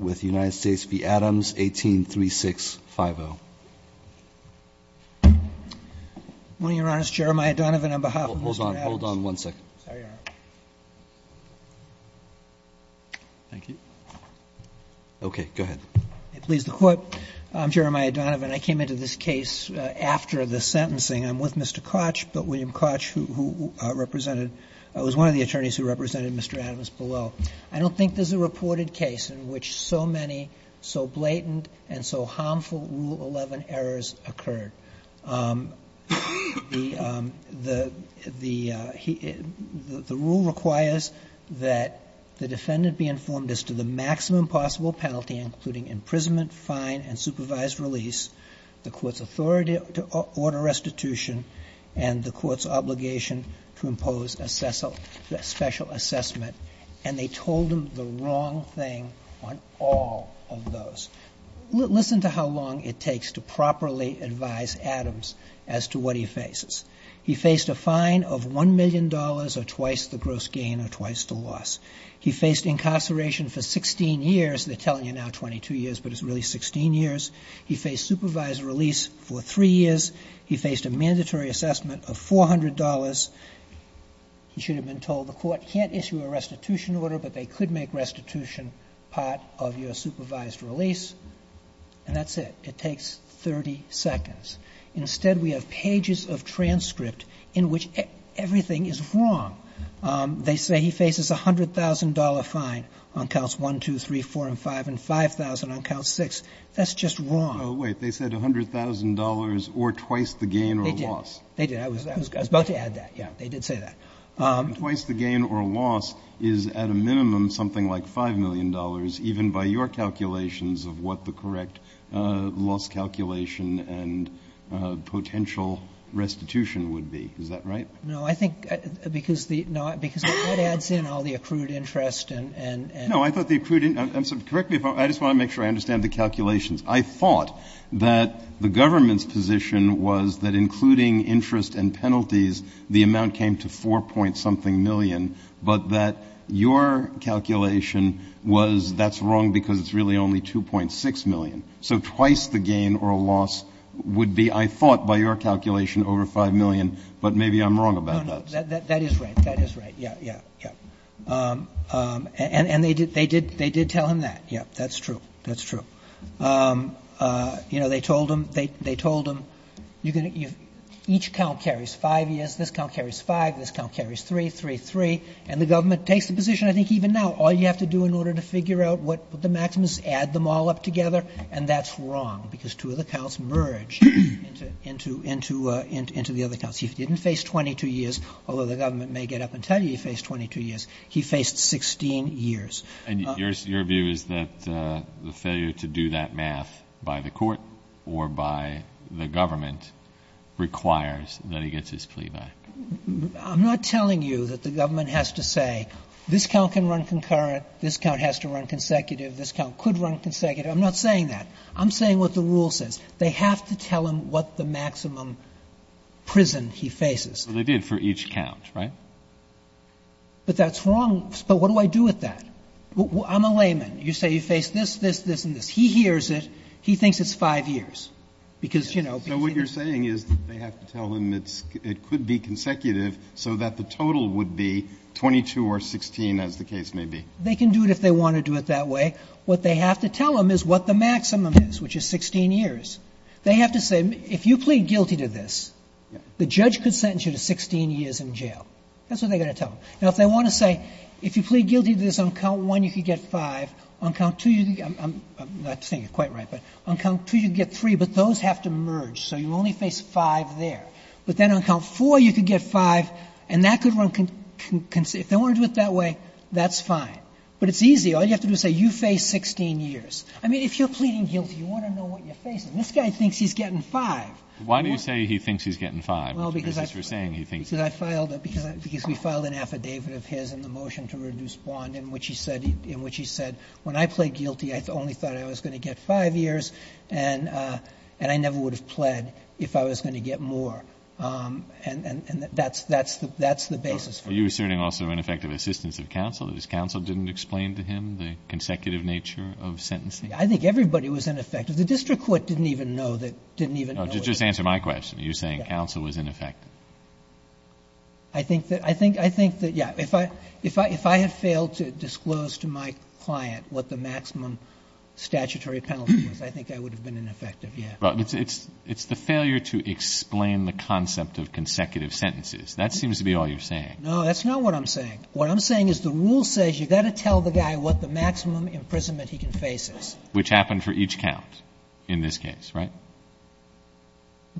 with United States v. Adams, 183650. Mr. Adams, I came into this case after the sentencing. I'm with Mr. Koch, Bill William Koch, who was one of the attorneys who represented Mr. Adams below. I don't think there's in which so many so blatant and so harmful Rule 11 errors occurred. The rule requires that the defendant be informed as to the maximum possible penalty, including imprisonment, fine, and supervised release, the court's authority to order restitution, and the court's on all of those. Listen to how long it takes to properly advise Adams as to what he faces. He faced a fine of $1 million or twice the gross gain or twice the loss. He faced incarceration for 16 years. They're telling you now 22 years, but it's really 16 years. He faced supervised release for three years. He faced a mandatory assessment of $400. He should have been told the court can't issue a restitution order, but they could make restitution part of your supervised release. And that's it. It takes 30 seconds. Instead, we have pages of transcript in which everything is wrong. They say he faces a $100,000 fine on counts 1, 2, 3, 4, and 5, and 5,000 on count 6. That's just wrong. Oh, wait. They said $100,000 or twice the gain or loss. They did. They did. I was about to add that. Yeah. They did say that. Twice the gain or loss is at a minimum something like $5 million, even by your calculations of what the correct loss calculation and potential restitution would be. Is that right? No. I think because the — no, because that adds in all the accrued interest and — No. I thought the accrued — correct me if I'm wrong. I just want to make sure I understand the calculations. I thought that the government's position was that including interest and penalties, the amount came to 4-point-something million, but that your calculation was that's wrong because it's really only 2.6 million. So twice the gain or loss would be, I thought by your calculation, over $5 million, but maybe I'm wrong about that. No, no. That is right. That is right. Yeah. Yeah. Yeah. And they did tell him that. Yeah. That's true. That's true. You know, they told him — they told him you're going to — each count carries five years. This count carries five. This count carries three, three, three. And the government takes the position, I think even now, all you have to do in order to figure out what the maximum is, add them all up together, and that's wrong because two of the counts merge into the other counts. He didn't face 22 years, although the government may get up and tell you he faced 22 years. He faced 16 years. And your view is that the failure to do that math by the court or by the government requires that he gets his plea back? I'm not telling you that the government has to say this count can run concurrent, this count has to run consecutive, this count could run consecutive. I'm not saying that. I'm saying what the rule says. They have to tell him what the maximum prison he faces. Well, they did for each count, right? But that's wrong. But what do I do with that? I'm a layman. You say you face this, this, this, and this. He hears it. He thinks it's five years because, you know. So what you're saying is they have to tell him it's — it could be consecutive so that the total would be 22 or 16, as the case may be. They can do it if they want to do it that way. What they have to tell him is what the maximum is, which is 16 years. They have to say, if you plead guilty to this, the judge could sentence you to 16 years in jail. That's what they're going to tell him. Now, if they want to say, if you plead guilty to this on count one, you could get five. On count two — I'm not saying it quite right, but on count two, you get three. But those have to merge, so you only face five there. But then on count four, you could get five, and that could run — if they want to do it that way, that's fine. But it's easy. All you have to do is say you face 16 years. I mean, if you're pleading guilty, you want to know what you're facing. This guy thinks he's getting five. Why do you say he thinks he's getting five? Because we filed an affidavit of his in the motion to reduce bond in which he said, when I pled guilty, I only thought I was going to get five years, and I never would have pled if I was going to get more. And that's the basis for it. Are you asserting also ineffective assistance of counsel, that his counsel didn't explain to him the consecutive nature of sentencing? I think everybody was ineffective. The district court didn't even know that — didn't even know it. No, just answer my question. Are you saying counsel was ineffective? I think that — I think — I think that, yes. If I — if I had failed to disclose to my client what the maximum statutory penalty was, I think I would have been ineffective, yes. But it's — it's the failure to explain the concept of consecutive sentences. That seems to be all you're saying. No, that's not what I'm saying. What I'm saying is the rule says you've got to tell the guy what the maximum imprisonment he can face is. Which happened for each count in this case, right?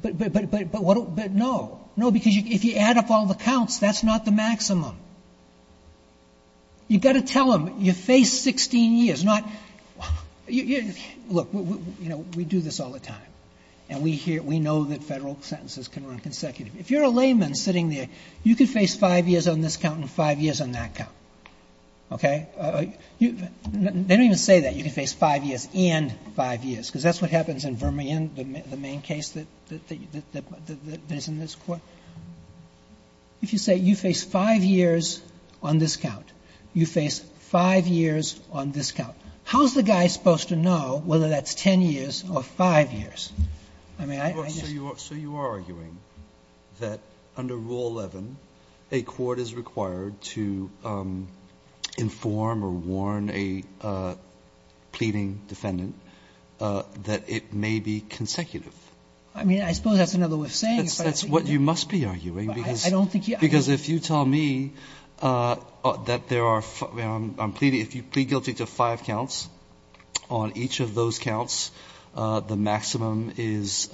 But — but — but what — but no. No, because if you add up all the counts, that's not the maximum. You've got to tell him you face 16 years, not — look, you know, we do this all the time. And we hear — we know that federal sentences can run consecutive. If you're a layman sitting there, you could face five years on this count and five years on that count, okay? They don't even say that. You can face five years and five years, because that's what happens in Vermillion, the main case that — that is in this Court. If you say you face five years on this count, you face five years on this count, how is the guy supposed to know whether that's 10 years or five years? I mean, I just — that under Rule 11, a court is required to inform or warn a pleading defendant that it may be consecutive. I mean, I suppose that's another way of saying it, but — That's what you must be arguing, because — I don't think you — Because if you tell me that there are — I'm pleading — if you plead guilty to five on each of those counts, the maximum is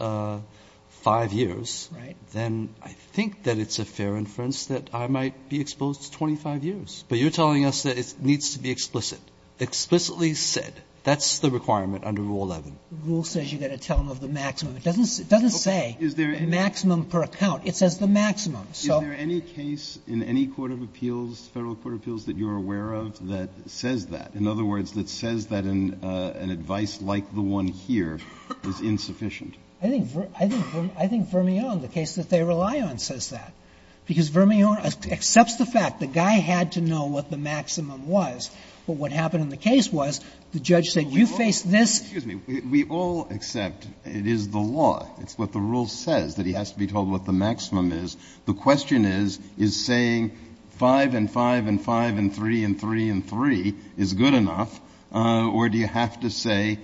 five years. Right. Then I think that it's a fair inference that I might be exposed to 25 years. But you're telling us that it needs to be explicit, explicitly said. That's the requirement under Rule 11. Rule says you've got to tell them of the maximum. It doesn't — it doesn't say the maximum per account. It says the maximum. Is there any case in any court of appeals, federal court of appeals, that you're aware of that says that? In other words, that says that an advice like the one here is insufficient? I think — I think — I think Vermillon, the case that they rely on, says that. Because Vermillon accepts the fact the guy had to know what the maximum was. But what happened in the case was the judge said, you face this — Excuse me. We all accept it is the law. It's what the rule says, that he has to be told what the maximum is. The question is, is saying 5 and 5 and 5 and 3 and 3 and 3 is good enough, or do you have to say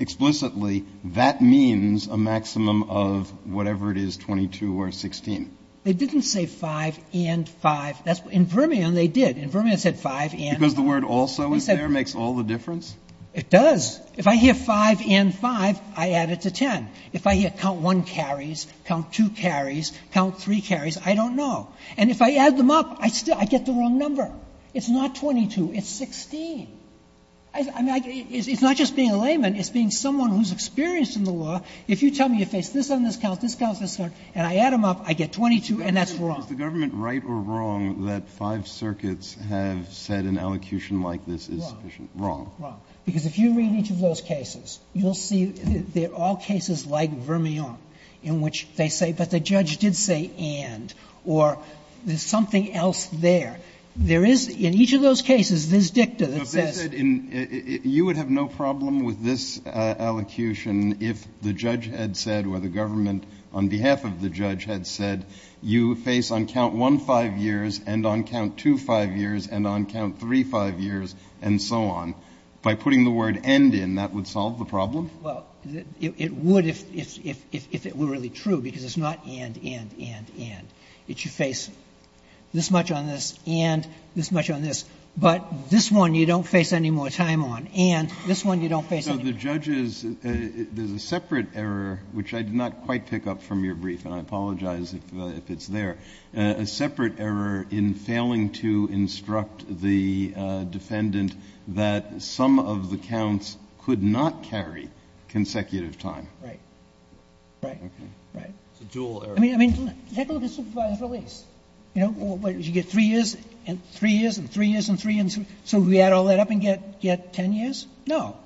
explicitly that means a maximum of whatever it is, 22 or 16? They didn't say 5 and 5. In Vermillon, they did. In Vermillon, it said 5 and 5. Because the word also is there, makes all the difference? It does. If I hear 5 and 5, I add it to 10. If I hear count 1 carries, count 2 carries, count 3 carries, I don't know. And if I add them up, I still — I get the wrong number. It's not 22. It's 16. I mean, it's not just being a layman. It's being someone who's experienced in the law. If you tell me you face this on this count, this counts, this counts, and I add them up, I get 22, and that's wrong. Is the government right or wrong that five circuits have said an allocution like this is sufficient? Wrong. Wrong. Because if you read each of those cases, you'll see they're all cases like Vermillon in which they say, but the judge did say and, or there's something else there. There is — in each of those cases, there's dicta that says — But they said you would have no problem with this allocution if the judge had said or the government on behalf of the judge had said you face on count 1 five years and on count 2 five years and on count 3 five years and so on. By putting the word and in, that would solve the problem? Well, it would if it were really true, because it's not and, and, and, and. It's you face this much on this and this much on this. But this one you don't face any more time on. And this one you don't face any more time on. So the judge is — there's a separate error, which I did not quite pick up from your brief, and I apologize if it's there, a separate error in failing to instruct the defendant that some of the counts could not carry consecutive time. Right. Right. Okay. Right. It's a dual error. I mean, I mean, take a look at supervised release. You know, you get 3 years and 3 years and 3 years and 3 years. So we add all that up and get 10 years? No.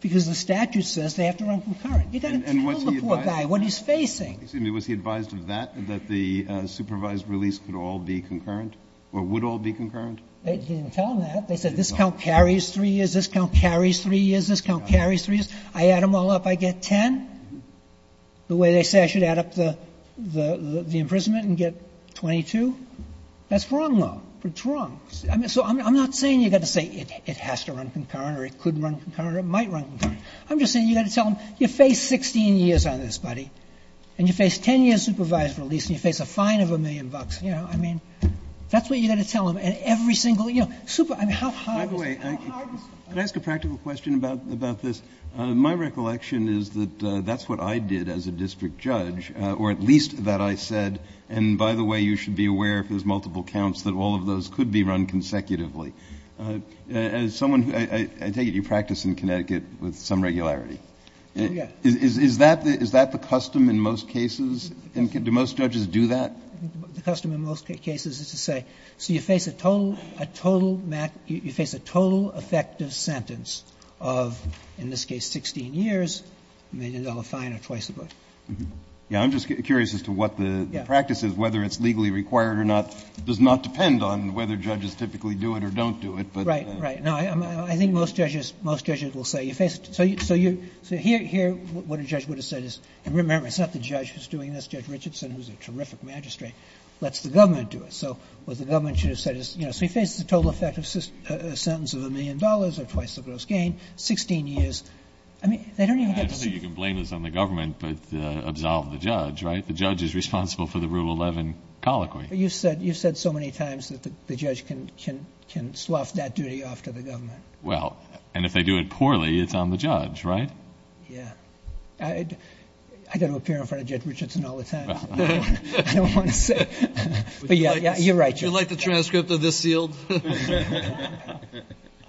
Because the statute says they have to run concurrent. You've got to tell the poor guy what he's facing. Was he advised of that, that the supervised release could all be concurrent They didn't tell him that. They said this count carries 3 years, this count carries 3 years, this count carries 3 years. I add them all up, I get 10? The way they say I should add up the imprisonment and get 22? That's wrong, though. It's wrong. So I'm not saying you've got to say it has to run concurrent or it could run concurrent or it might run concurrent. I'm just saying you've got to tell him you face 16 years on this, buddy, and you face 10 years supervised release, and you face a fine of a million bucks. You know, I mean, that's what you've got to tell him. And every single, you know, super, I mean, how hard is it? How hard is it? Can I ask a practical question about this? My recollection is that that's what I did as a district judge, or at least that I said, and by the way, you should be aware if there's multiple counts that all of those could be run consecutively. As someone who, I take it you practice in Connecticut with some regularity. Yeah. Is that the custom in most cases? Do most judges do that? The custom in most cases is to say, so you face a total effective sentence of, in this case, 16 years, a million-dollar fine or twice as much. Yeah. I'm just curious as to what the practice is, whether it's legally required or not. It does not depend on whether judges typically do it or don't do it, but. Right, right. No, I think most judges will say you face it. So here what a judge would have said is, and remember, it's not the judge who's a terrific magistrate, lets the government do it. So what the government should have said is, you know, so he faces a total effective sentence of a million dollars or twice the gross gain, 16 years. I mean, they don't even get to see. I don't think you can blame this on the government, but absolve the judge, right? The judge is responsible for the Rule 11 colloquy. You've said so many times that the judge can slough that duty off to the government. Well, and if they do it poorly, it's on the judge, right? Yeah. I've got to appear in front of Judge Richardson all the time. I don't want to say. But, yeah, you're right, Judge. Would you like the transcript of this sealed?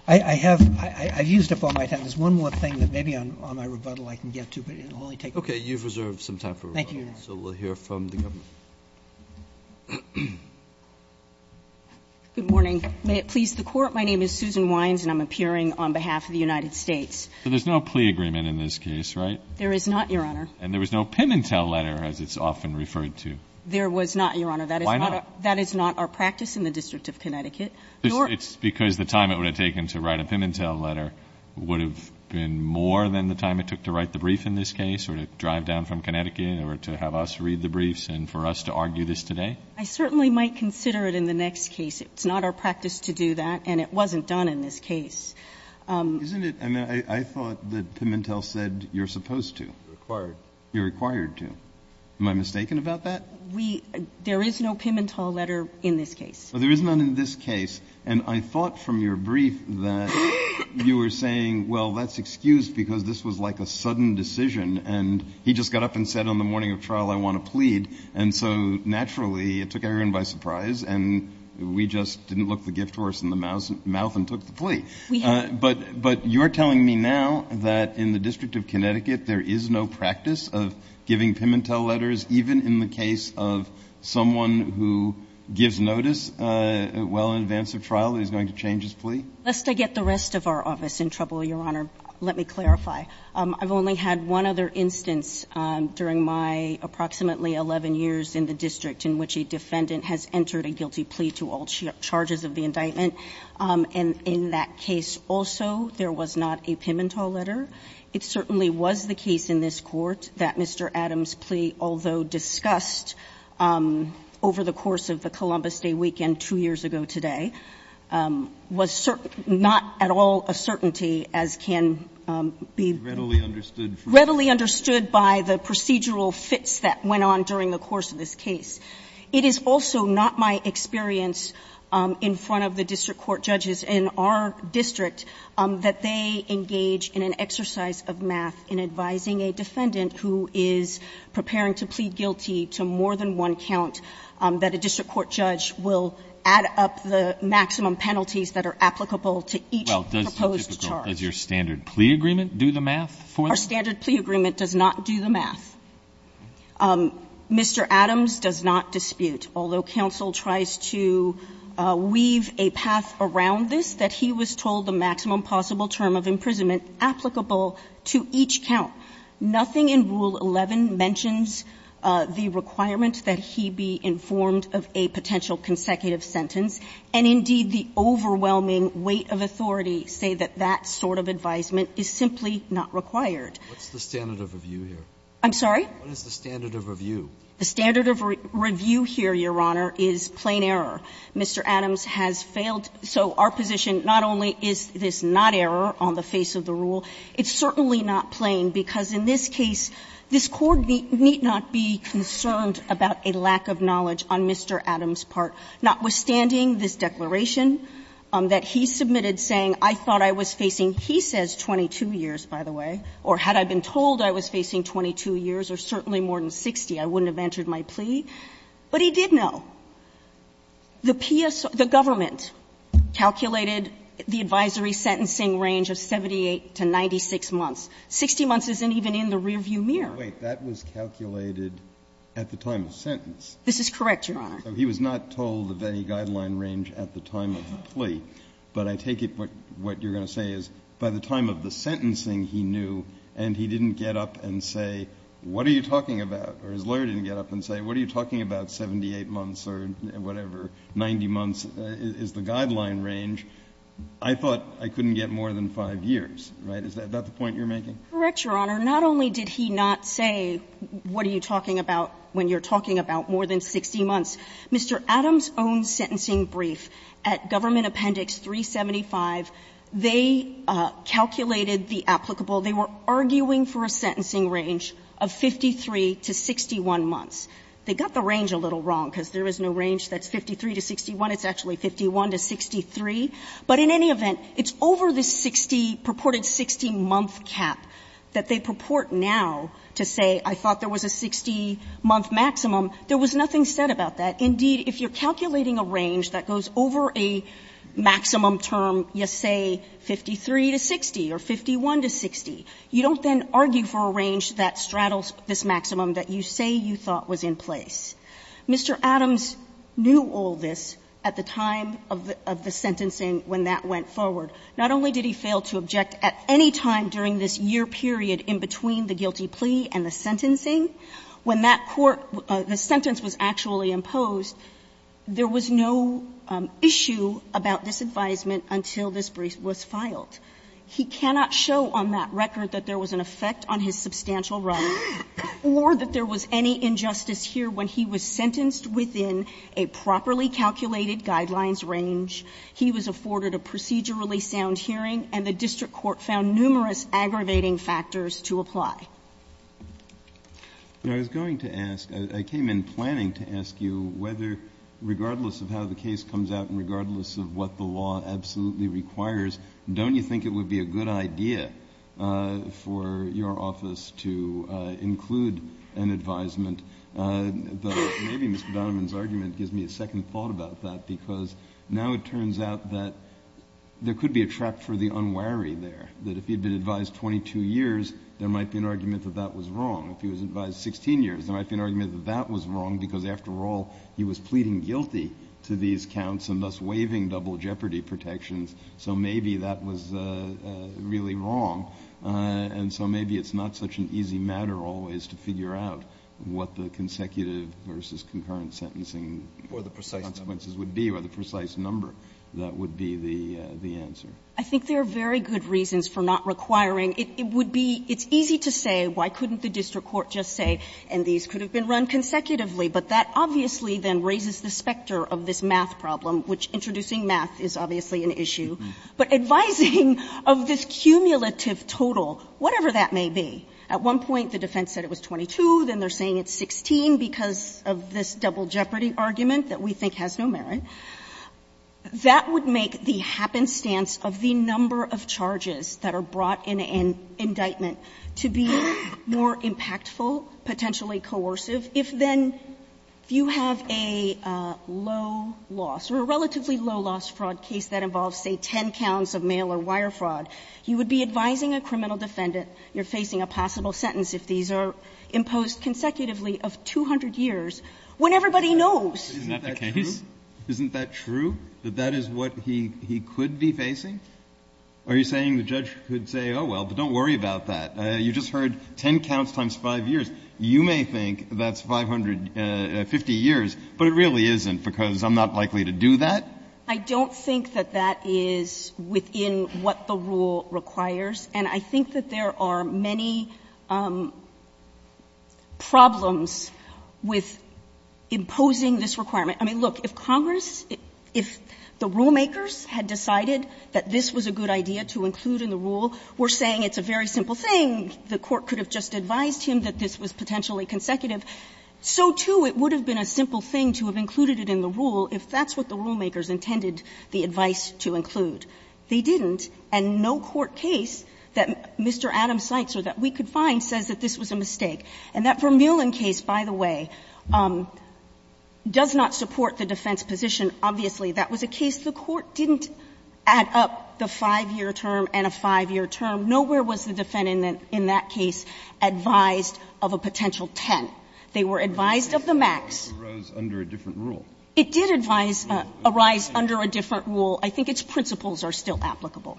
I have. I've used up all my time. There's one more thing that maybe on my rebuttal I can get to, but it will only take a moment. You've reserved some time for rebuttal. Thank you, Your Honor. So we'll hear from the government. Good morning. May it please the Court. My name is Susan Wines, and I'm appearing on behalf of the United States. So there's no plea agreement in this case, right? There is not, Your Honor. And there was no Pimentel letter, as it's often referred to. There was not, Your Honor. Why not? That is not our practice in the District of Connecticut. It's because the time it would have taken to write a Pimentel letter would have been more than the time it took to write the brief in this case or to drive down from Connecticut or to have us read the briefs and for us to argue this today? I certainly might consider it in the next case. It's not our practice to do that, and it wasn't done in this case. Isn't it? I mean, I thought that Pimentel said you're supposed to. Required. You're required to. Am I mistaken about that? We – there is no Pimentel letter in this case. There is none in this case. And I thought from your brief that you were saying, well, that's excused because this was like a sudden decision, and he just got up and said on the morning of trial I want to plead. And so, naturally, it took everyone by surprise, and we just didn't look the gift horse in the mouth and took the plea. But you're telling me now that in the District of Connecticut there is no practice of giving Pimentel letters, even in the case of someone who gives notice well in advance of trial that he's going to change his plea? Lest I get the rest of our office in trouble, Your Honor, let me clarify. I've only had one other instance during my approximately 11 years in the district in which a defendant has entered a guilty plea to all charges of the indictment. And in that case also there was not a Pimentel letter. It certainly was the case in this Court that Mr. Adams' plea, although discussed over the course of the Columbus Day weekend two years ago today, was not at all a certainty as can be readily understood by the procedural fits that went on during the course of this case. It is also not my experience in front of the district court judges in our district that they engage in an exercise of math in advising a defendant who is preparing to plead guilty to more than one count, that a district court judge will add up the maximum penalties that are applicable to each proposed charge. Well, does your standard plea agreement do the math for them? Our standard plea agreement does not do the math. Mr. Adams does not dispute. Although counsel tries to weave a path around this, that he was told the maximum possible term of imprisonment applicable to each count. Nothing in Rule 11 mentions the requirement that he be informed of a potential consecutive sentence, and indeed the overwhelming weight of authority say that that sort of advisement is simply not required. What's the standard of review here? I'm sorry? What is the standard of review? The standard of review here, Your Honor, is plain error. Mr. Adams has failed. So our position not only is this not error on the face of the rule, it's certainly not plain, because in this case, this Court need not be concerned about a lack of knowledge on Mr. Adams' part. Notwithstanding this declaration that he submitted saying, I thought I was facing he says 22 years, by the way, or had I been told I was facing 22 years, or certainly more than 60, I wouldn't have entered my plea, but he did know. The PS or the government calculated the advisory sentencing range of 78 to 96 months. 60 months isn't even in the rearview mirror. Wait. That was calculated at the time of sentence. This is correct, Your Honor. But I take it what you're going to say is, by the time of the sentencing he knew and he didn't get up and say, what are you talking about, or his lawyer didn't get up and say, what are you talking about, 78 months or whatever, 90 months is the guideline range, I thought I couldn't get more than 5 years, right? Is that the point you're making? Correct, Your Honor. Not only did he not say, what are you talking about when you're talking about more than 60 months, Mr. Adams' own sentencing brief at Government Appendix 375, they calculated the applicable. They were arguing for a sentencing range of 53 to 61 months. They got the range a little wrong, because there is no range that's 53 to 61. It's actually 51 to 63, but in any event, it's over the 60, purported 60-month cap that they purport now to say, I thought there was a 60-month maximum. There was nothing said about that. Indeed, if you're calculating a range that goes over a maximum term, you say 53 to 60 or 51 to 60, you don't then argue for a range that straddles this maximum that you say you thought was in place. Mr. Adams knew all this at the time of the sentencing when that went forward. Not only did he fail to object at any time during this year period in between the guilty plea and the sentencing, when that court, the sentence was actually imposed, there was no issue about this advisement until this brief was filed. He cannot show on that record that there was an effect on his substantial right or that there was any injustice here when he was sentenced within a properly calculated guidelines range. He was afforded a procedurally sound hearing, and the district court found numerous aggravating factors to apply. I was going to ask, I came in planning to ask you whether regardless of how the case comes out and regardless of what the law absolutely requires, don't you think it would be a good idea for your office to include an advisement? Maybe Mr. Donovan's argument gives me a second thought about that because now it turns out that there could be a trap for the unwary there, that if he'd been advised 16 years, there might be an argument that that was wrong because, after all, he was pleading guilty to these counts and thus waiving double jeopardy protections, so maybe that was really wrong. And so maybe it's not such an easy matter always to figure out what the consecutive versus concurrent sentencing consequences would be or the precise number that would be the answer. I think there are very good reasons for not requiring. It would be, it's easy to say, why couldn't the district court just say, and these could have been run consecutively, but that obviously then raises the specter of this math problem, which introducing math is obviously an issue. But advising of this cumulative total, whatever that may be, at one point the defense said it was 22, then they're saying it's 16 because of this double jeopardy argument that we think has no merit, that would make the happenstance of the number of charges that are brought in an indictment to be more impactful, potentially coercive. If then you have a low-loss or a relatively low-loss fraud case that involves, say, 10 counts of mail-or-wire fraud, you would be advising a criminal defendant you're facing a possible sentence if these are imposed consecutively of 200 years when everybody knows. Isn't that the case? Isn't that true, that that is what he could be facing? Are you saying the judge could say, oh, well, but don't worry about that. You just heard 10 counts times 5 years. You may think that's 550 years, but it really isn't because I'm not likely to do that? I don't think that that is within what the rule requires. And I think that there are many problems with imposing this requirement. I mean, look, if Congress, if the rulemakers had decided that this was a good idea to include in the rule, were saying it's a very simple thing, the court could have just advised him that this was potentially consecutive, so, too, it would have been a simple thing to have included it in the rule if that's what the rulemakers intended the advice to include. They didn't. And no court case that Mr. Adams cites or that we could find says that this was a mistake. And that Vermeulen case, by the way, does not support the defense position. Obviously, that was a case the court didn't add up the 5-year term and a 5-year term. Nowhere was the defendant in that case advised of a potential 10. They were advised of the max. It did arise under a different rule. I think its principles are still applicable.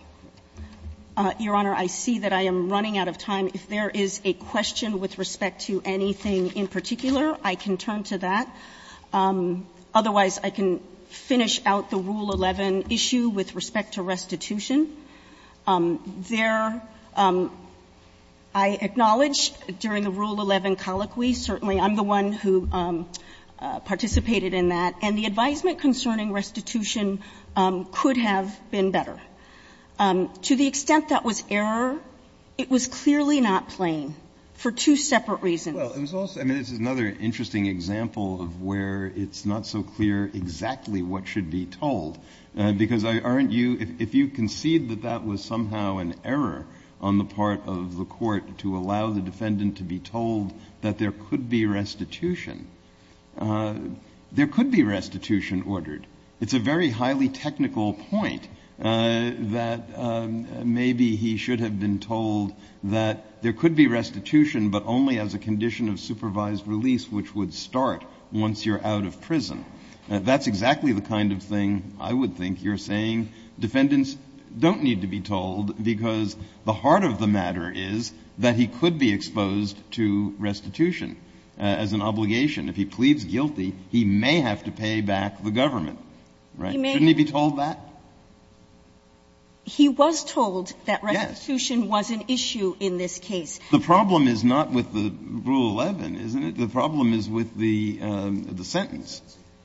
Your Honor, I see that I am running out of time. If there is a question with respect to anything in particular, I can turn to that. Otherwise, I can finish out the Rule 11 issue with respect to restitution. There, I acknowledge during the Rule 11 colloquy, certainly I'm the one who participated in that, and the advisement concerning restitution could have been better. To the extent that was error, it was clearly not plain for two separate reasons. Well, it was also another interesting example of where it's not so clear exactly what should be told, because aren't you – if you concede that that was somehow an error on the part of the court to allow the defendant to be told that there could be restitution, there could be restitution ordered. It's a very highly technical point that maybe he should have been told that there could be restitution, but only as a condition of supervised release, which would start once you're out of prison. That's exactly the kind of thing I would think you're saying defendants don't need to be told, because the heart of the matter is that he could be exposed to restitution. If he pleads guilty, he may have to pay back the government, right? Shouldn't he be told that? He was told that restitution was an issue in this case. The problem is not with the Rule 11, isn't it? The problem is with the sentence.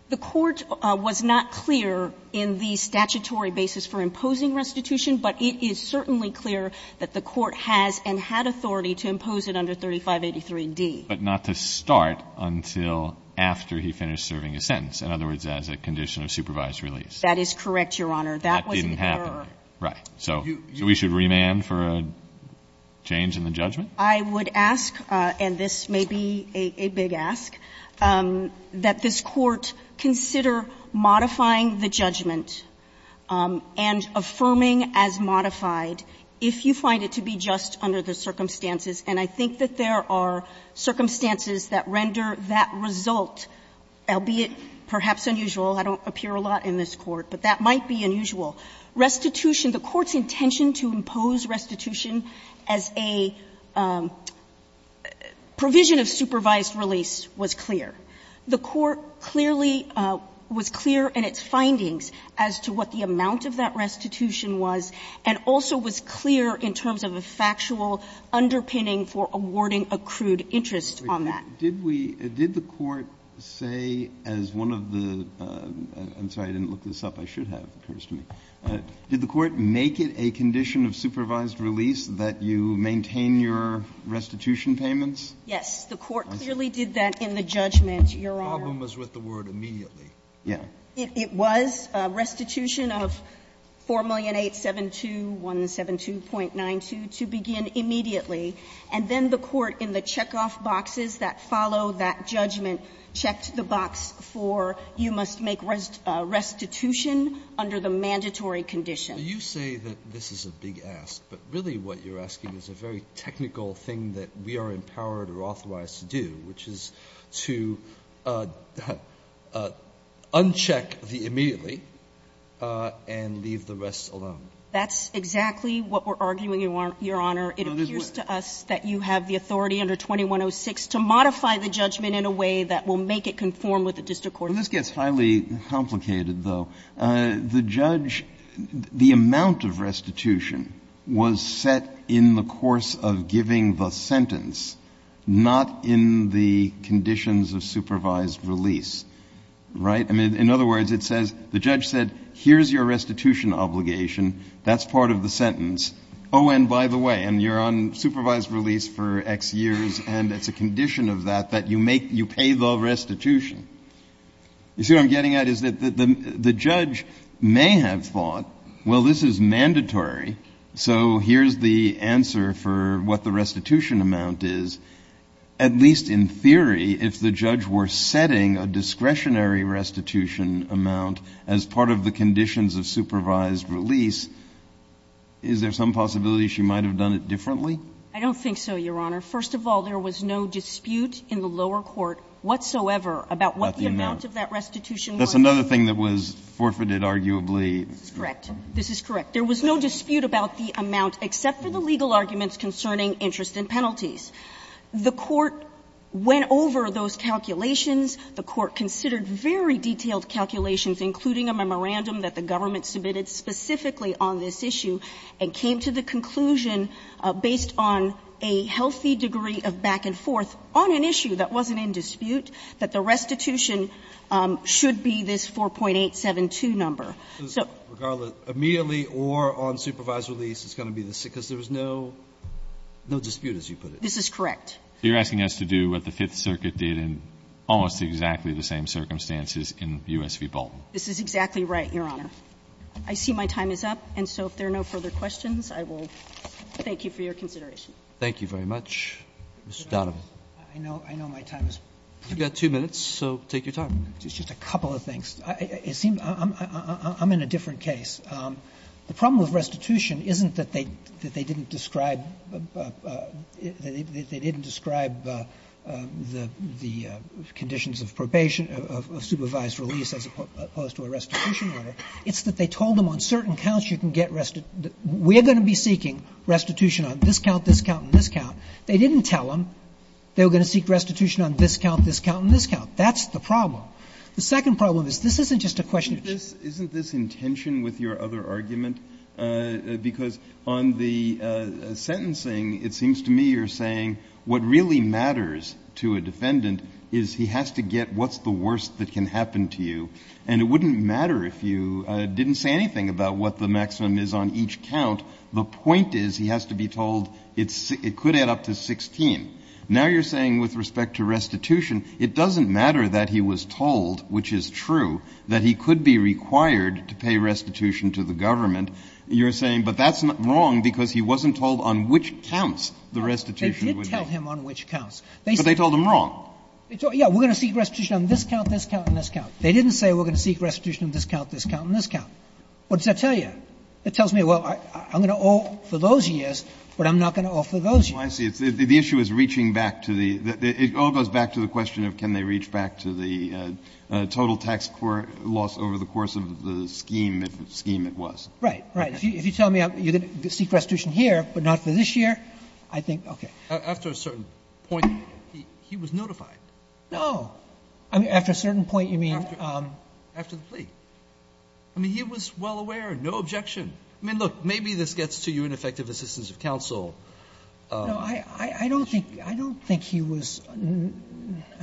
The Court was not clear in the statutory basis for imposing restitution, but it is certainly clear that the Court has and had authority to impose it under 3583d. But not to start until after he finished serving his sentence, in other words, as a condition of supervised release. That is correct, Your Honor. That was in error. That didn't happen, right. So we should remand for a change in the judgment? I would ask, and this may be a big ask, that this Court consider modifying the judgment and affirming as modified if you find it to be just under the circumstances. And I think that there are circumstances that render that result, albeit perhaps unusual, I don't appear a lot in this Court, but that might be unusual. Restitution, the Court's intention to impose restitution as a provision of supervised release was clear. The Court clearly was clear in its findings as to what the amount of that restitution was, and also was clear in terms of a factual underpinning for awarding accrued interest on that. Did we – did the Court say as one of the – I'm sorry, I didn't look this up. I should have, it occurs to me. Did the Court make it a condition of supervised release that you maintain your restitution payments? Yes. The Court clearly did that in the judgment, Your Honor. The problem was with the word immediately. Yeah. It was a restitution of 4,872,172.92 to begin immediately, and then the Court in the check-off boxes that follow that judgment checked the box for you must make restitution under the mandatory condition. You say that this is a big ask, but really what you're asking is a very technical thing that we are empowered or authorized to do, which is to uncheck the immediately and leave the rest alone. That's exactly what we're arguing, Your Honor. It appears to us that you have the authority under 2106 to modify the judgment in a way that will make it conform with the district court's judgment. Well, this gets highly complicated, though. The judge, the amount of restitution was set in the course of giving the sentence, not in the conditions of supervised release, right? I mean, in other words, it says, the judge said, here's your restitution obligation. That's part of the sentence. Oh, and by the way, and you're on supervised release for X years, and it's a condition of that that you make, you pay the restitution. You see what I'm getting at is that the judge may have thought, well, this is mandatory, so here's the answer for what the restitution amount is. At least in theory, if the judge were setting a discretionary restitution amount as part of the conditions of supervised release, is there some possibility she might have done it differently? I don't think so, Your Honor. First of all, there was no dispute in the lower court whatsoever about what the amount of that restitution was. That's another thing that was forfeited, arguably. That's correct. This is correct. There was no dispute about the amount, except for the legal arguments concerning interest and penalties. The court went over those calculations. The court considered very detailed calculations, including a memorandum that the government submitted specifically on this issue, and came to the conclusion, based on a healthy degree of back and forth on an issue that wasn't in dispute, that the restitution should be this 4.872 number. So regardless, immediately or on supervised release, it's going to be this, because there was no dispute, as you put it. This is correct. You're asking us to do what the Fifth Circuit did in almost exactly the same circumstances in U.S. v. Bolton. This is exactly right, Your Honor. I see my time is up, and so if there are no further questions, I will thank you for your consideration. Thank you very much. Mr. Donovan. I know my time is up. You've got two minutes, so take your time. Just a couple of things. It seems I'm in a different case. The problem with restitution isn't that they didn't describe the conditions of probation, of supervised release as opposed to a restitution order. It's that they told them on certain counts you can get restitution. We're going to be seeking restitution on this count, this count, and this count. They didn't tell them they were going to seek restitution on this count, this count, and this count. That's the problem. The second problem is this isn't just a question of just this. Isn't this in tension with your other argument? Because on the sentencing, it seems to me you're saying what really matters to a defendant is he has to get what's the worst that can happen to you, and it wouldn't matter if you didn't say anything about what the maximum is on each count. The point is he has to be told it could add up to 16. Now you're saying with respect to restitution, it doesn't matter that he was told, which is true, that he could be required to pay restitution to the government. You're saying but that's wrong because he wasn't told on which counts the restitution would be. They did tell him on which counts. But they told him wrong. Yeah. We're going to seek restitution on this count, this count, and this count. They didn't say we're going to seek restitution on this count, this count, and this count. What does that tell you? It tells me, well, I'm going to owe for those years, but I'm not going to owe for those years. Breyer. I see. The issue is reaching back to the — it all goes back to the question of can they reach back to the total tax loss over the course of the scheme, the scheme it was. Right. Right. If you tell me you're going to seek restitution here but not for this year, I think okay. After a certain point, he was notified. No. I mean, after a certain point, you mean? After the plea. I mean, he was well aware, no objection. I mean, look, maybe this gets to you in effective assistance of counsel. No, I don't think he was — I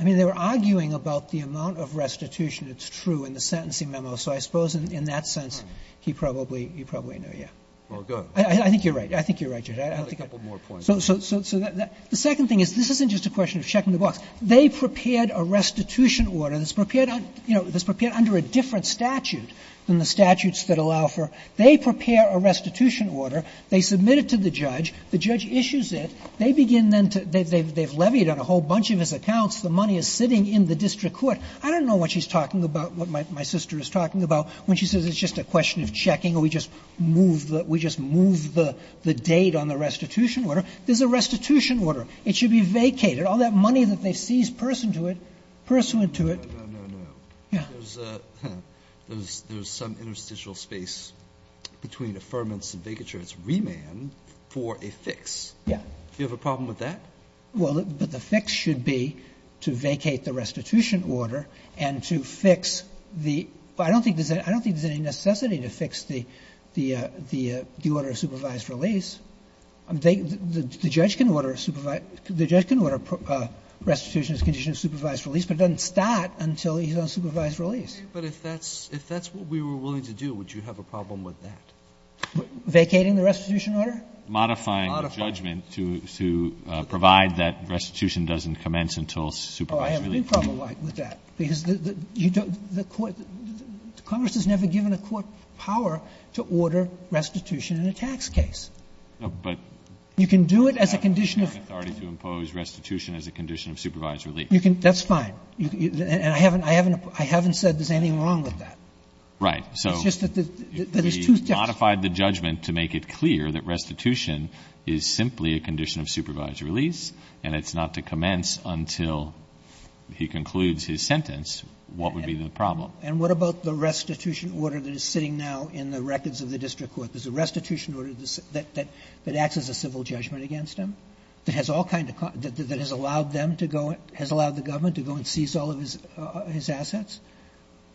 mean, they were arguing about the amount of restitution that's true in the sentencing memo. So I suppose in that sense, he probably knew, yeah. Well, good. I think you're right. I think you're right, Judge. I think I'm right. So the second thing is this isn't just a question of checking the box. They prepared a restitution order that's prepared, you know, that's prepared under a different statute than the statutes that allow for — they prepare a restitution order. They submit it to the judge. The judge issues it. They begin then to — they've levied on a whole bunch of his accounts. The money is sitting in the district court. I don't know what she's talking about, what my sister is talking about, when she says it's just a question of checking or we just move the — we just move the date on the restitution order. There's a restitution order. It should be vacated. All that money that they seize pursuant to it — No, no, no, no. Yeah. There's some interstitial space between affirmance and vacature. It's remand for a fix. Yeah. Do you have a problem with that? Well, but the fix should be to vacate the restitution order and to fix the — I don't think there's any necessity to fix the order of supervised release. The judge can order a supervised — the judge can order a restitution as a condition of supervised release, but it doesn't start until he's on supervised release. But if that's — if that's what we were willing to do, would you have a problem with that? Vacating the restitution order? Modifying the judgment to provide that restitution doesn't commence until supervised release. Oh, I have no problem with that. in a tax case. But — You can do it as a condition of — I have no authority to impose restitution as a condition of supervised release. You can — that's fine. And I haven't — I haven't said there's anything wrong with that. Right. So — It's just that there's two — If we modified the judgment to make it clear that restitution is simply a condition of supervised release and it's not to commence until he concludes his sentence, what would be the problem? And what about the restitution order that is sitting now in the records of the district court? There's a restitution order that acts as a civil judgment against him that has all kind of — that has allowed them to go — has allowed the government to go and seize all of his assets?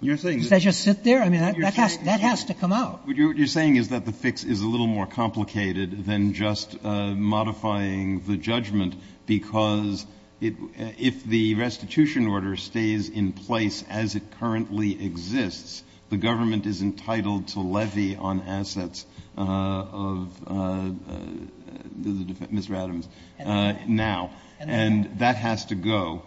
You're saying — Does that just sit there? I mean, that has to come out. What you're saying is that the fix is a little more complicated than just modifying the judgment, because if the restitution order stays in place as it currently exists, the government is entitled to levy on assets of Mr. Adams now. And that has to go.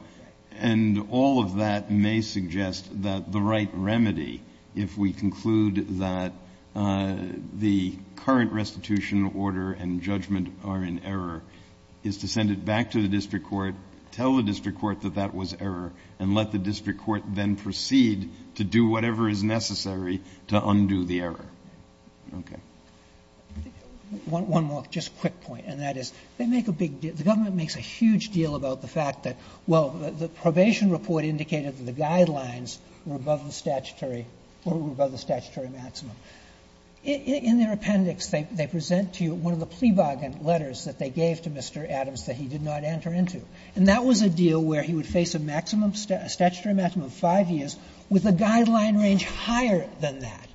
And all of that may suggest that the right remedy, if we conclude that the current restitution order and judgment are in error, is to send it back to the district court, tell the district court that that was error, and let the district court then proceed to do whatever is necessary to undo the error. Okay. One more just quick point, and that is they make a big deal — the government makes a huge deal about the fact that, well, the probation report indicated that the guidelines were above the statutory — were above the statutory maximum. In their appendix, they present to you one of the plea bargain letters that they gave to Mr. Adams that he did not enter into. And that was a deal where he would face a maximum — a statutory maximum of 5 years with a guideline range higher than that.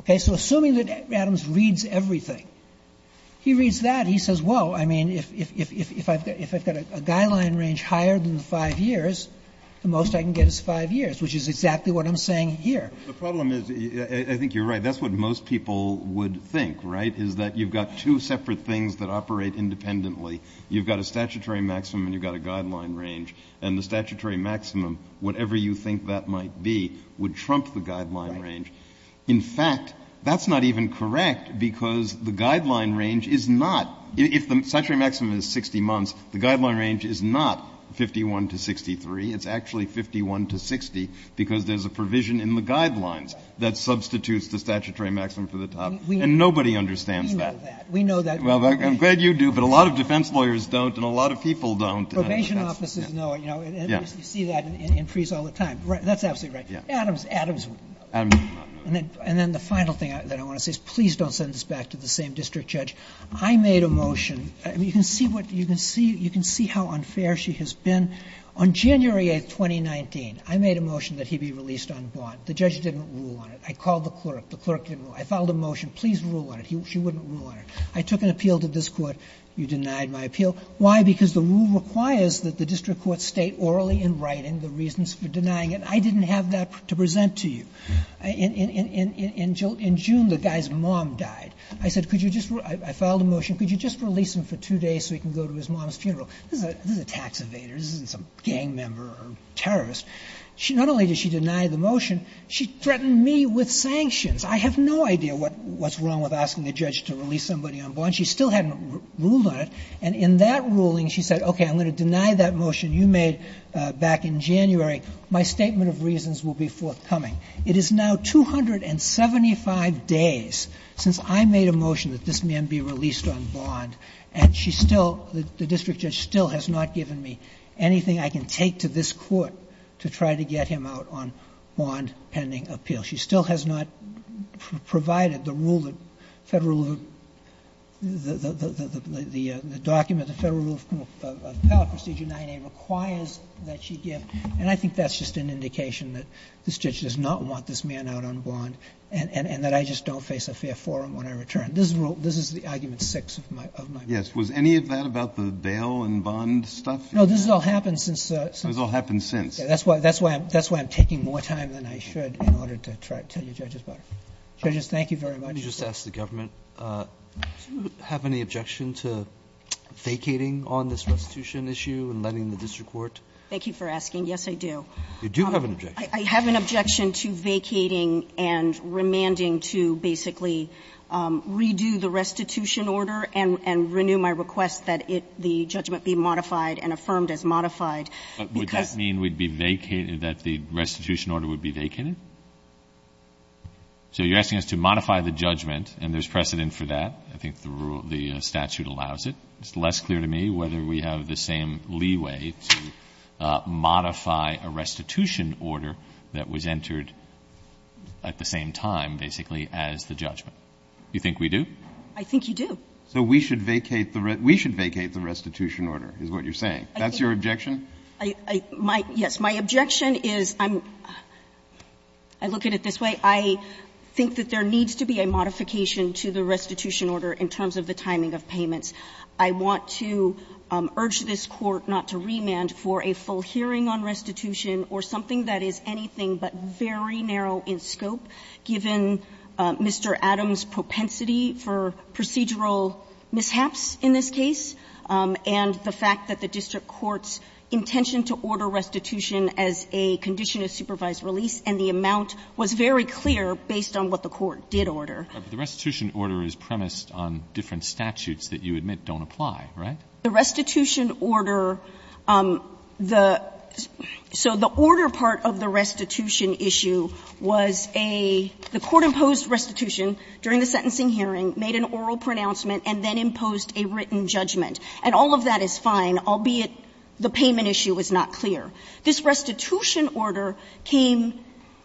Okay? So assuming that Adams reads everything, he reads that, he says, well, I mean, if I've got a guideline range higher than the 5 years, the most I can get is 5 years, which is exactly what I'm saying here. The problem is — I think you're right. That's what most people would think, right, is that you've got two separate things that operate independently. You've got a statutory maximum and you've got a guideline range. And the statutory maximum, whatever you think that might be, would trump the guideline range. Right. In fact, that's not even correct, because the guideline range is not — if the statutory maximum is 60 months, the guideline range is not 51 to 63. It's actually 51 to 60, because there's a provision in the guidelines that substitutes the statutory maximum for the top. And nobody understands that. We know that. We know that. Well, I'm glad you do, but a lot of defense lawyers don't and a lot of people don't. Probation offices know it, you know. Yes. You see that in frees all the time. That's absolutely right. Adams, Adams. Adams does not know that. And then the final thing that I want to say is please don't send this back to the same district judge. I made a motion. I mean, you can see what — you can see how unfair she has been. On January 8th, 2019, I made a motion that he be released on bond. The judge didn't rule on it. I called the clerk. The clerk didn't rule. I filed a motion. Please rule on it. She wouldn't rule on it. I took an appeal to this Court. You denied my appeal. Why? Because the rule requires that the district courts state orally in writing the reasons for denying it. I didn't have that to present to you. In June, the guy's mom died. I said, could you just — I filed a motion. Could you just release him for two days so he can go to his mom's funeral? This is a tax evader. This isn't some gang member or terrorist. Not only did she deny the motion, she threatened me with sanctions. I have no idea what's wrong with asking a judge to release somebody on bond. She still hadn't ruled on it. And in that ruling, she said, okay, I'm going to deny that motion you made back in January. My statement of reasons will be forthcoming. It is now 275 days since I made a motion that this man be released on bond, and she still has not given me anything I can take to this Court to try to get him out on bond-pending appeal. She still has not provided the rule that Federal — the document, the Federal Rule of Appellate Procedure 9A requires that she give. And I think that's just an indication that this judge does not want this man out on bond and that I just don't face a fair forum when I return. This is the argument six of my motion. Yes. Was any of that about the bail and bond stuff? No, this has all happened since the — This has all happened since. That's why — that's why I'm taking more time than I should in order to try to tell you judges about it. Judges, thank you very much. Let me just ask the government, do you have any objection to vacating on this restitution issue and letting the district court — Thank you for asking. Yes, I do. You do have an objection. I have an objection to vacating and remanding to basically redo the restitution order and renew my request that it — the judgment be modified and affirmed as modified because — But would that mean we'd be vacating — that the restitution order would be vacated? So you're asking us to modify the judgment, and there's precedent for that. I think the rule — the statute allows it. It's less clear to me whether we have the same leeway to modify a restitution order that was entered at the same time, basically, as the judgment. Do you think we do? I think you do. So we should vacate the restitution order, is what you're saying. That's your objection? I — yes. My objection is I'm — I look at it this way. I think that there needs to be a modification to the restitution order in terms of the timing of payments. I want to urge this Court not to remand for a full hearing on restitution or something that is anything but very narrow in scope, given Mr. Adams' propensity for procedural mishaps in this case and the fact that the district court's intention to order restitution as a condition of supervised release, and the amount was very clear based on what the court did order. But the restitution order is premised on different statutes that you admit don't apply, right? The restitution order, the — so the order part of the restitution issue was a — the sentencing hearing made an oral pronouncement and then imposed a written judgment. And all of that is fine, albeit the payment issue is not clear. This restitution order came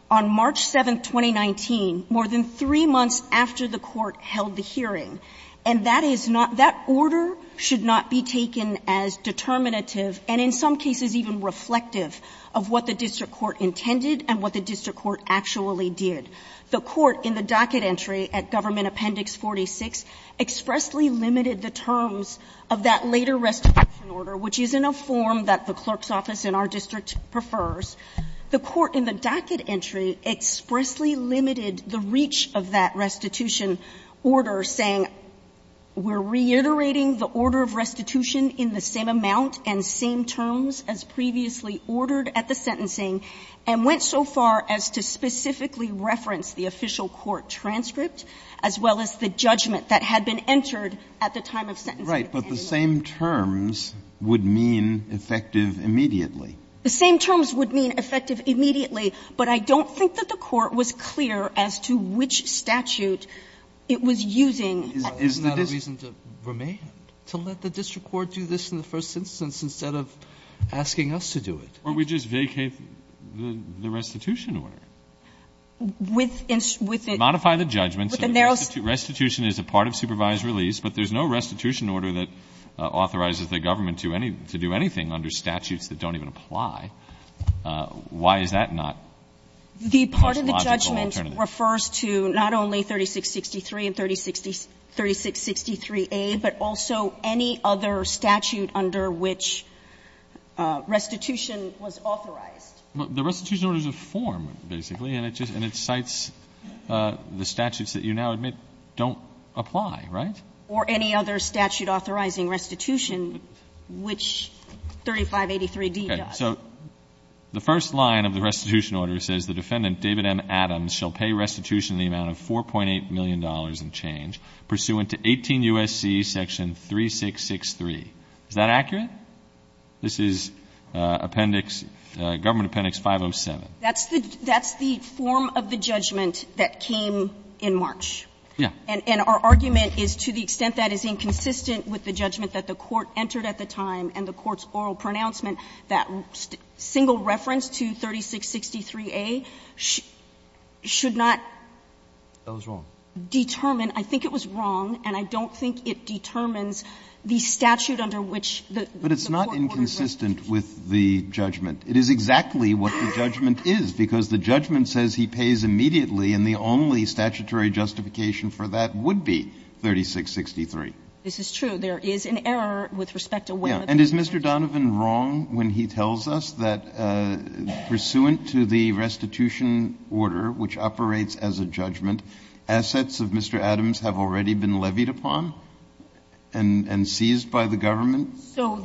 on March 7th, 2019, more than three months after the court held the hearing. And that is not — that order should not be taken as determinative and in some cases even reflective of what the district court intended and what the district court actually did. The court in the docket entry at Government Appendix 46 expressly limited the terms of that later restitution order, which is in a form that the clerk's office in our district prefers. The court in the docket entry expressly limited the reach of that restitution order, saying we're reiterating the order of restitution in the same amount and same terms as previously ordered at the sentencing, and went so far as to specifically reference the official court transcript as well as the judgment that had been entered at the time of sentencing. Breyer. But the same terms would mean effective immediately. The same terms would mean effective immediately, but I don't think that the court was clear as to which statute it was using. Isn't that a reason to remain, to let the district court do this in the first instance instead of asking us to do it? Or we just vacate the restitution order. With the narrow statute. Modify the judgment. Restitution is a part of supervised release, but there's no restitution order that authorizes the government to do anything under statutes that don't even apply. Why is that not a logical alternative? The part of the judgment refers to not only 3663 and 3663a, but also any other statute under which restitution was authorized. But the restitution order is a form, basically, and it just – and it cites the statutes that you now admit don't apply, right? Or any other statute authorizing restitution which 3583d does. Okay. So the first line of the restitution order says the defendant, David M. Adams, shall pay restitution in the amount of $4.8 million and change pursuant to 18 U.S.C. section 3663. Is that accurate? This is appendix – government appendix 507. That's the form of the judgment that came in March. Yeah. And our argument is to the extent that is inconsistent with the judgment that the Court entered at the time and the Court's oral pronouncement, that single reference to 3663a should not determine. That was wrong. I think it was wrong, and I don't think it determines the statute under which the Court ordered restitution. But it's not inconsistent with the judgment. It is exactly what the judgment is, because the judgment says he pays immediately, and the only statutory justification for that would be 3663. This is true. There is an error with respect to where the payment is. Yeah. And is Mr. Donovan wrong when he tells us that pursuant to the restitution order, which operates as a judgment, assets of Mr. Adams have already been levied upon and seized by the government?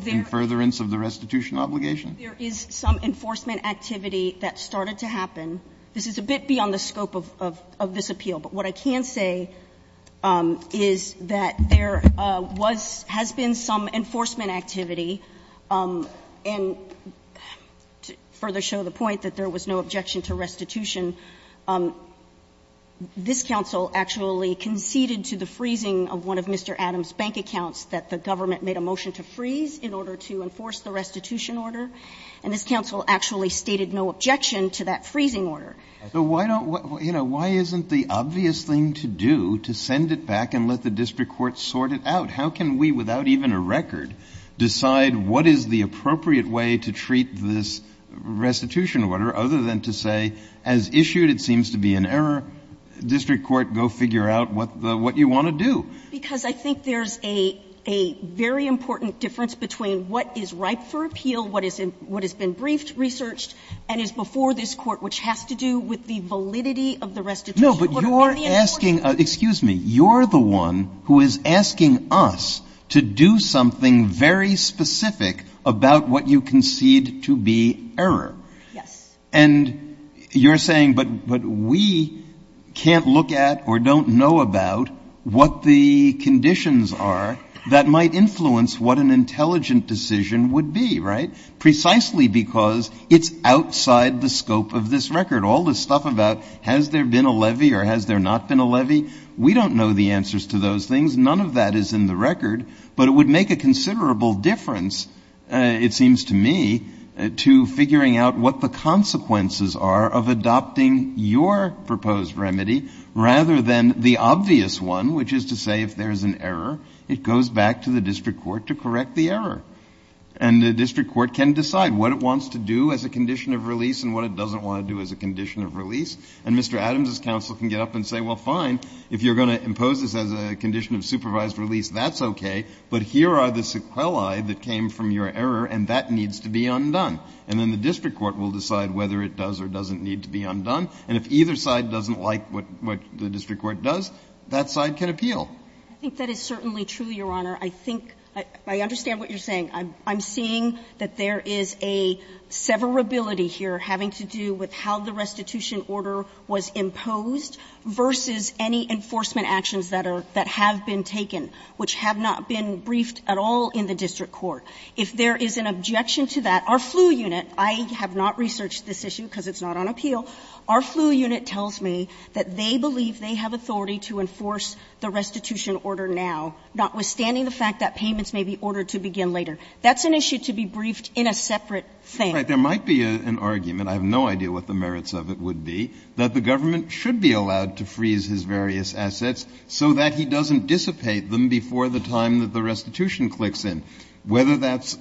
In furtherance of the restitution obligation? There is some enforcement activity that started to happen. This is a bit beyond the scope of this appeal. But what I can say is that there was – has been some enforcement activity. And to further show the point that there was no objection to restitution, this counsel actually conceded to the freezing of one of Mr. Adams' bank accounts that the government made a motion to freeze in order to enforce the restitution order. And this counsel actually stated no objection to that freezing order. So why don't – you know, why isn't the obvious thing to do to send it back and let the district court sort it out? How can we, without even a record, decide what is the appropriate way to treat this restitution order, other than to say, as issued, it seems to be an error, district court, go figure out what the – what you want to do? Because I think there's a – a very important difference between what is ripe for appeal, what is – what has been briefed, researched, and is before this Court, which has to do with the validity of the restitution order. No, but you're asking – excuse me. You're the one who is asking us to do something very specific about what you concede to be error. Yes. And you're saying, but we can't look at or don't know about what the conditions are that might influence what an intelligent decision would be, right? Precisely because it's outside the scope of this record. All this stuff about has there been a levy or has there not been a levy, we don't know the answers to those things. None of that is in the record. But it would make a considerable difference, it seems to me, to figuring out what the consequences are of adopting your proposed remedy rather than the obvious one, which is to say if there's an error, it goes back to the district court to correct the error. And the district court can decide what it wants to do as a condition of release and what it doesn't want to do as a condition of release. And Mr. Adams' counsel can get up and say, well, fine, if you're going to impose this as a condition of supervised release, that's okay, but here are the sequelae that came from your error, and that needs to be undone. And then the district court will decide whether it does or doesn't need to be undone. And if either side doesn't like what the district court does, that side can appeal. I think that is certainly true, Your Honor. I think – I understand what you're saying. I'm seeing that there is a severability here having to do with how the restitution order was imposed versus any enforcement actions that are – that have been taken, which have not been briefed at all in the district court. If there is an objection to that, our FLU unit – I have not researched this issue because it's not on appeal – our FLU unit tells me that they believe they have authority to enforce the restitution order now, notwithstanding the fact that payments may be ordered to begin later. That's an issue to be briefed in a separate thing. Breyer. There might be an argument – I have no idea what the merits of it would be – that the government should be allowed to freeze his various assets so that he doesn't dissipate them before the time that the restitution clicks in. Whether that's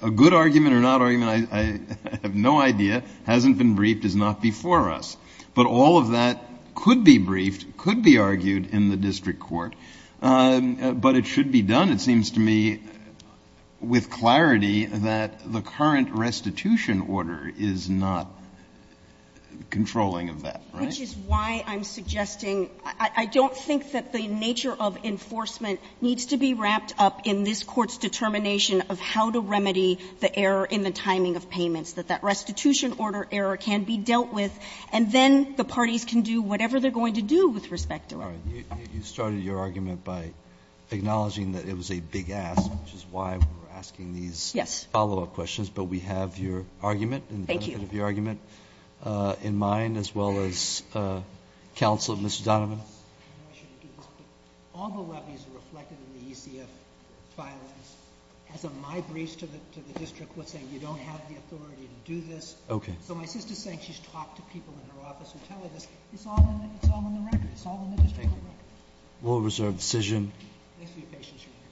a good argument or not – I have no idea – hasn't been briefed, is not before us. But all of that could be briefed, could be argued in the district court, but it should be done, it seems to me, with clarity that the current restitution order is not controlling of that, right? Which is why I'm suggesting – I don't think that the nature of enforcement needs to be wrapped up in this Court's determination of how to remedy the error in the timing of payments, that that restitution order error can be dealt with, and then the parties can do whatever they're going to do with respect to it. All right. You started your argument by acknowledging that it was a big ask, which is why we're asking these follow-up questions. Yes. But we have your argument and the benefit of your argument in mind, as well as counsel at Mr. Donovan. I know I shouldn't do this, but all the levies are reflected in the ECF filings. As of my briefs to the district, we're saying you don't have the authority to do this. Okay. So my sister's saying she's talked to people in her office who tell her this. It's all in the record. It's all in the district court record. Okay. Rule of reserve decision. Thanks for your patience, Your Honor.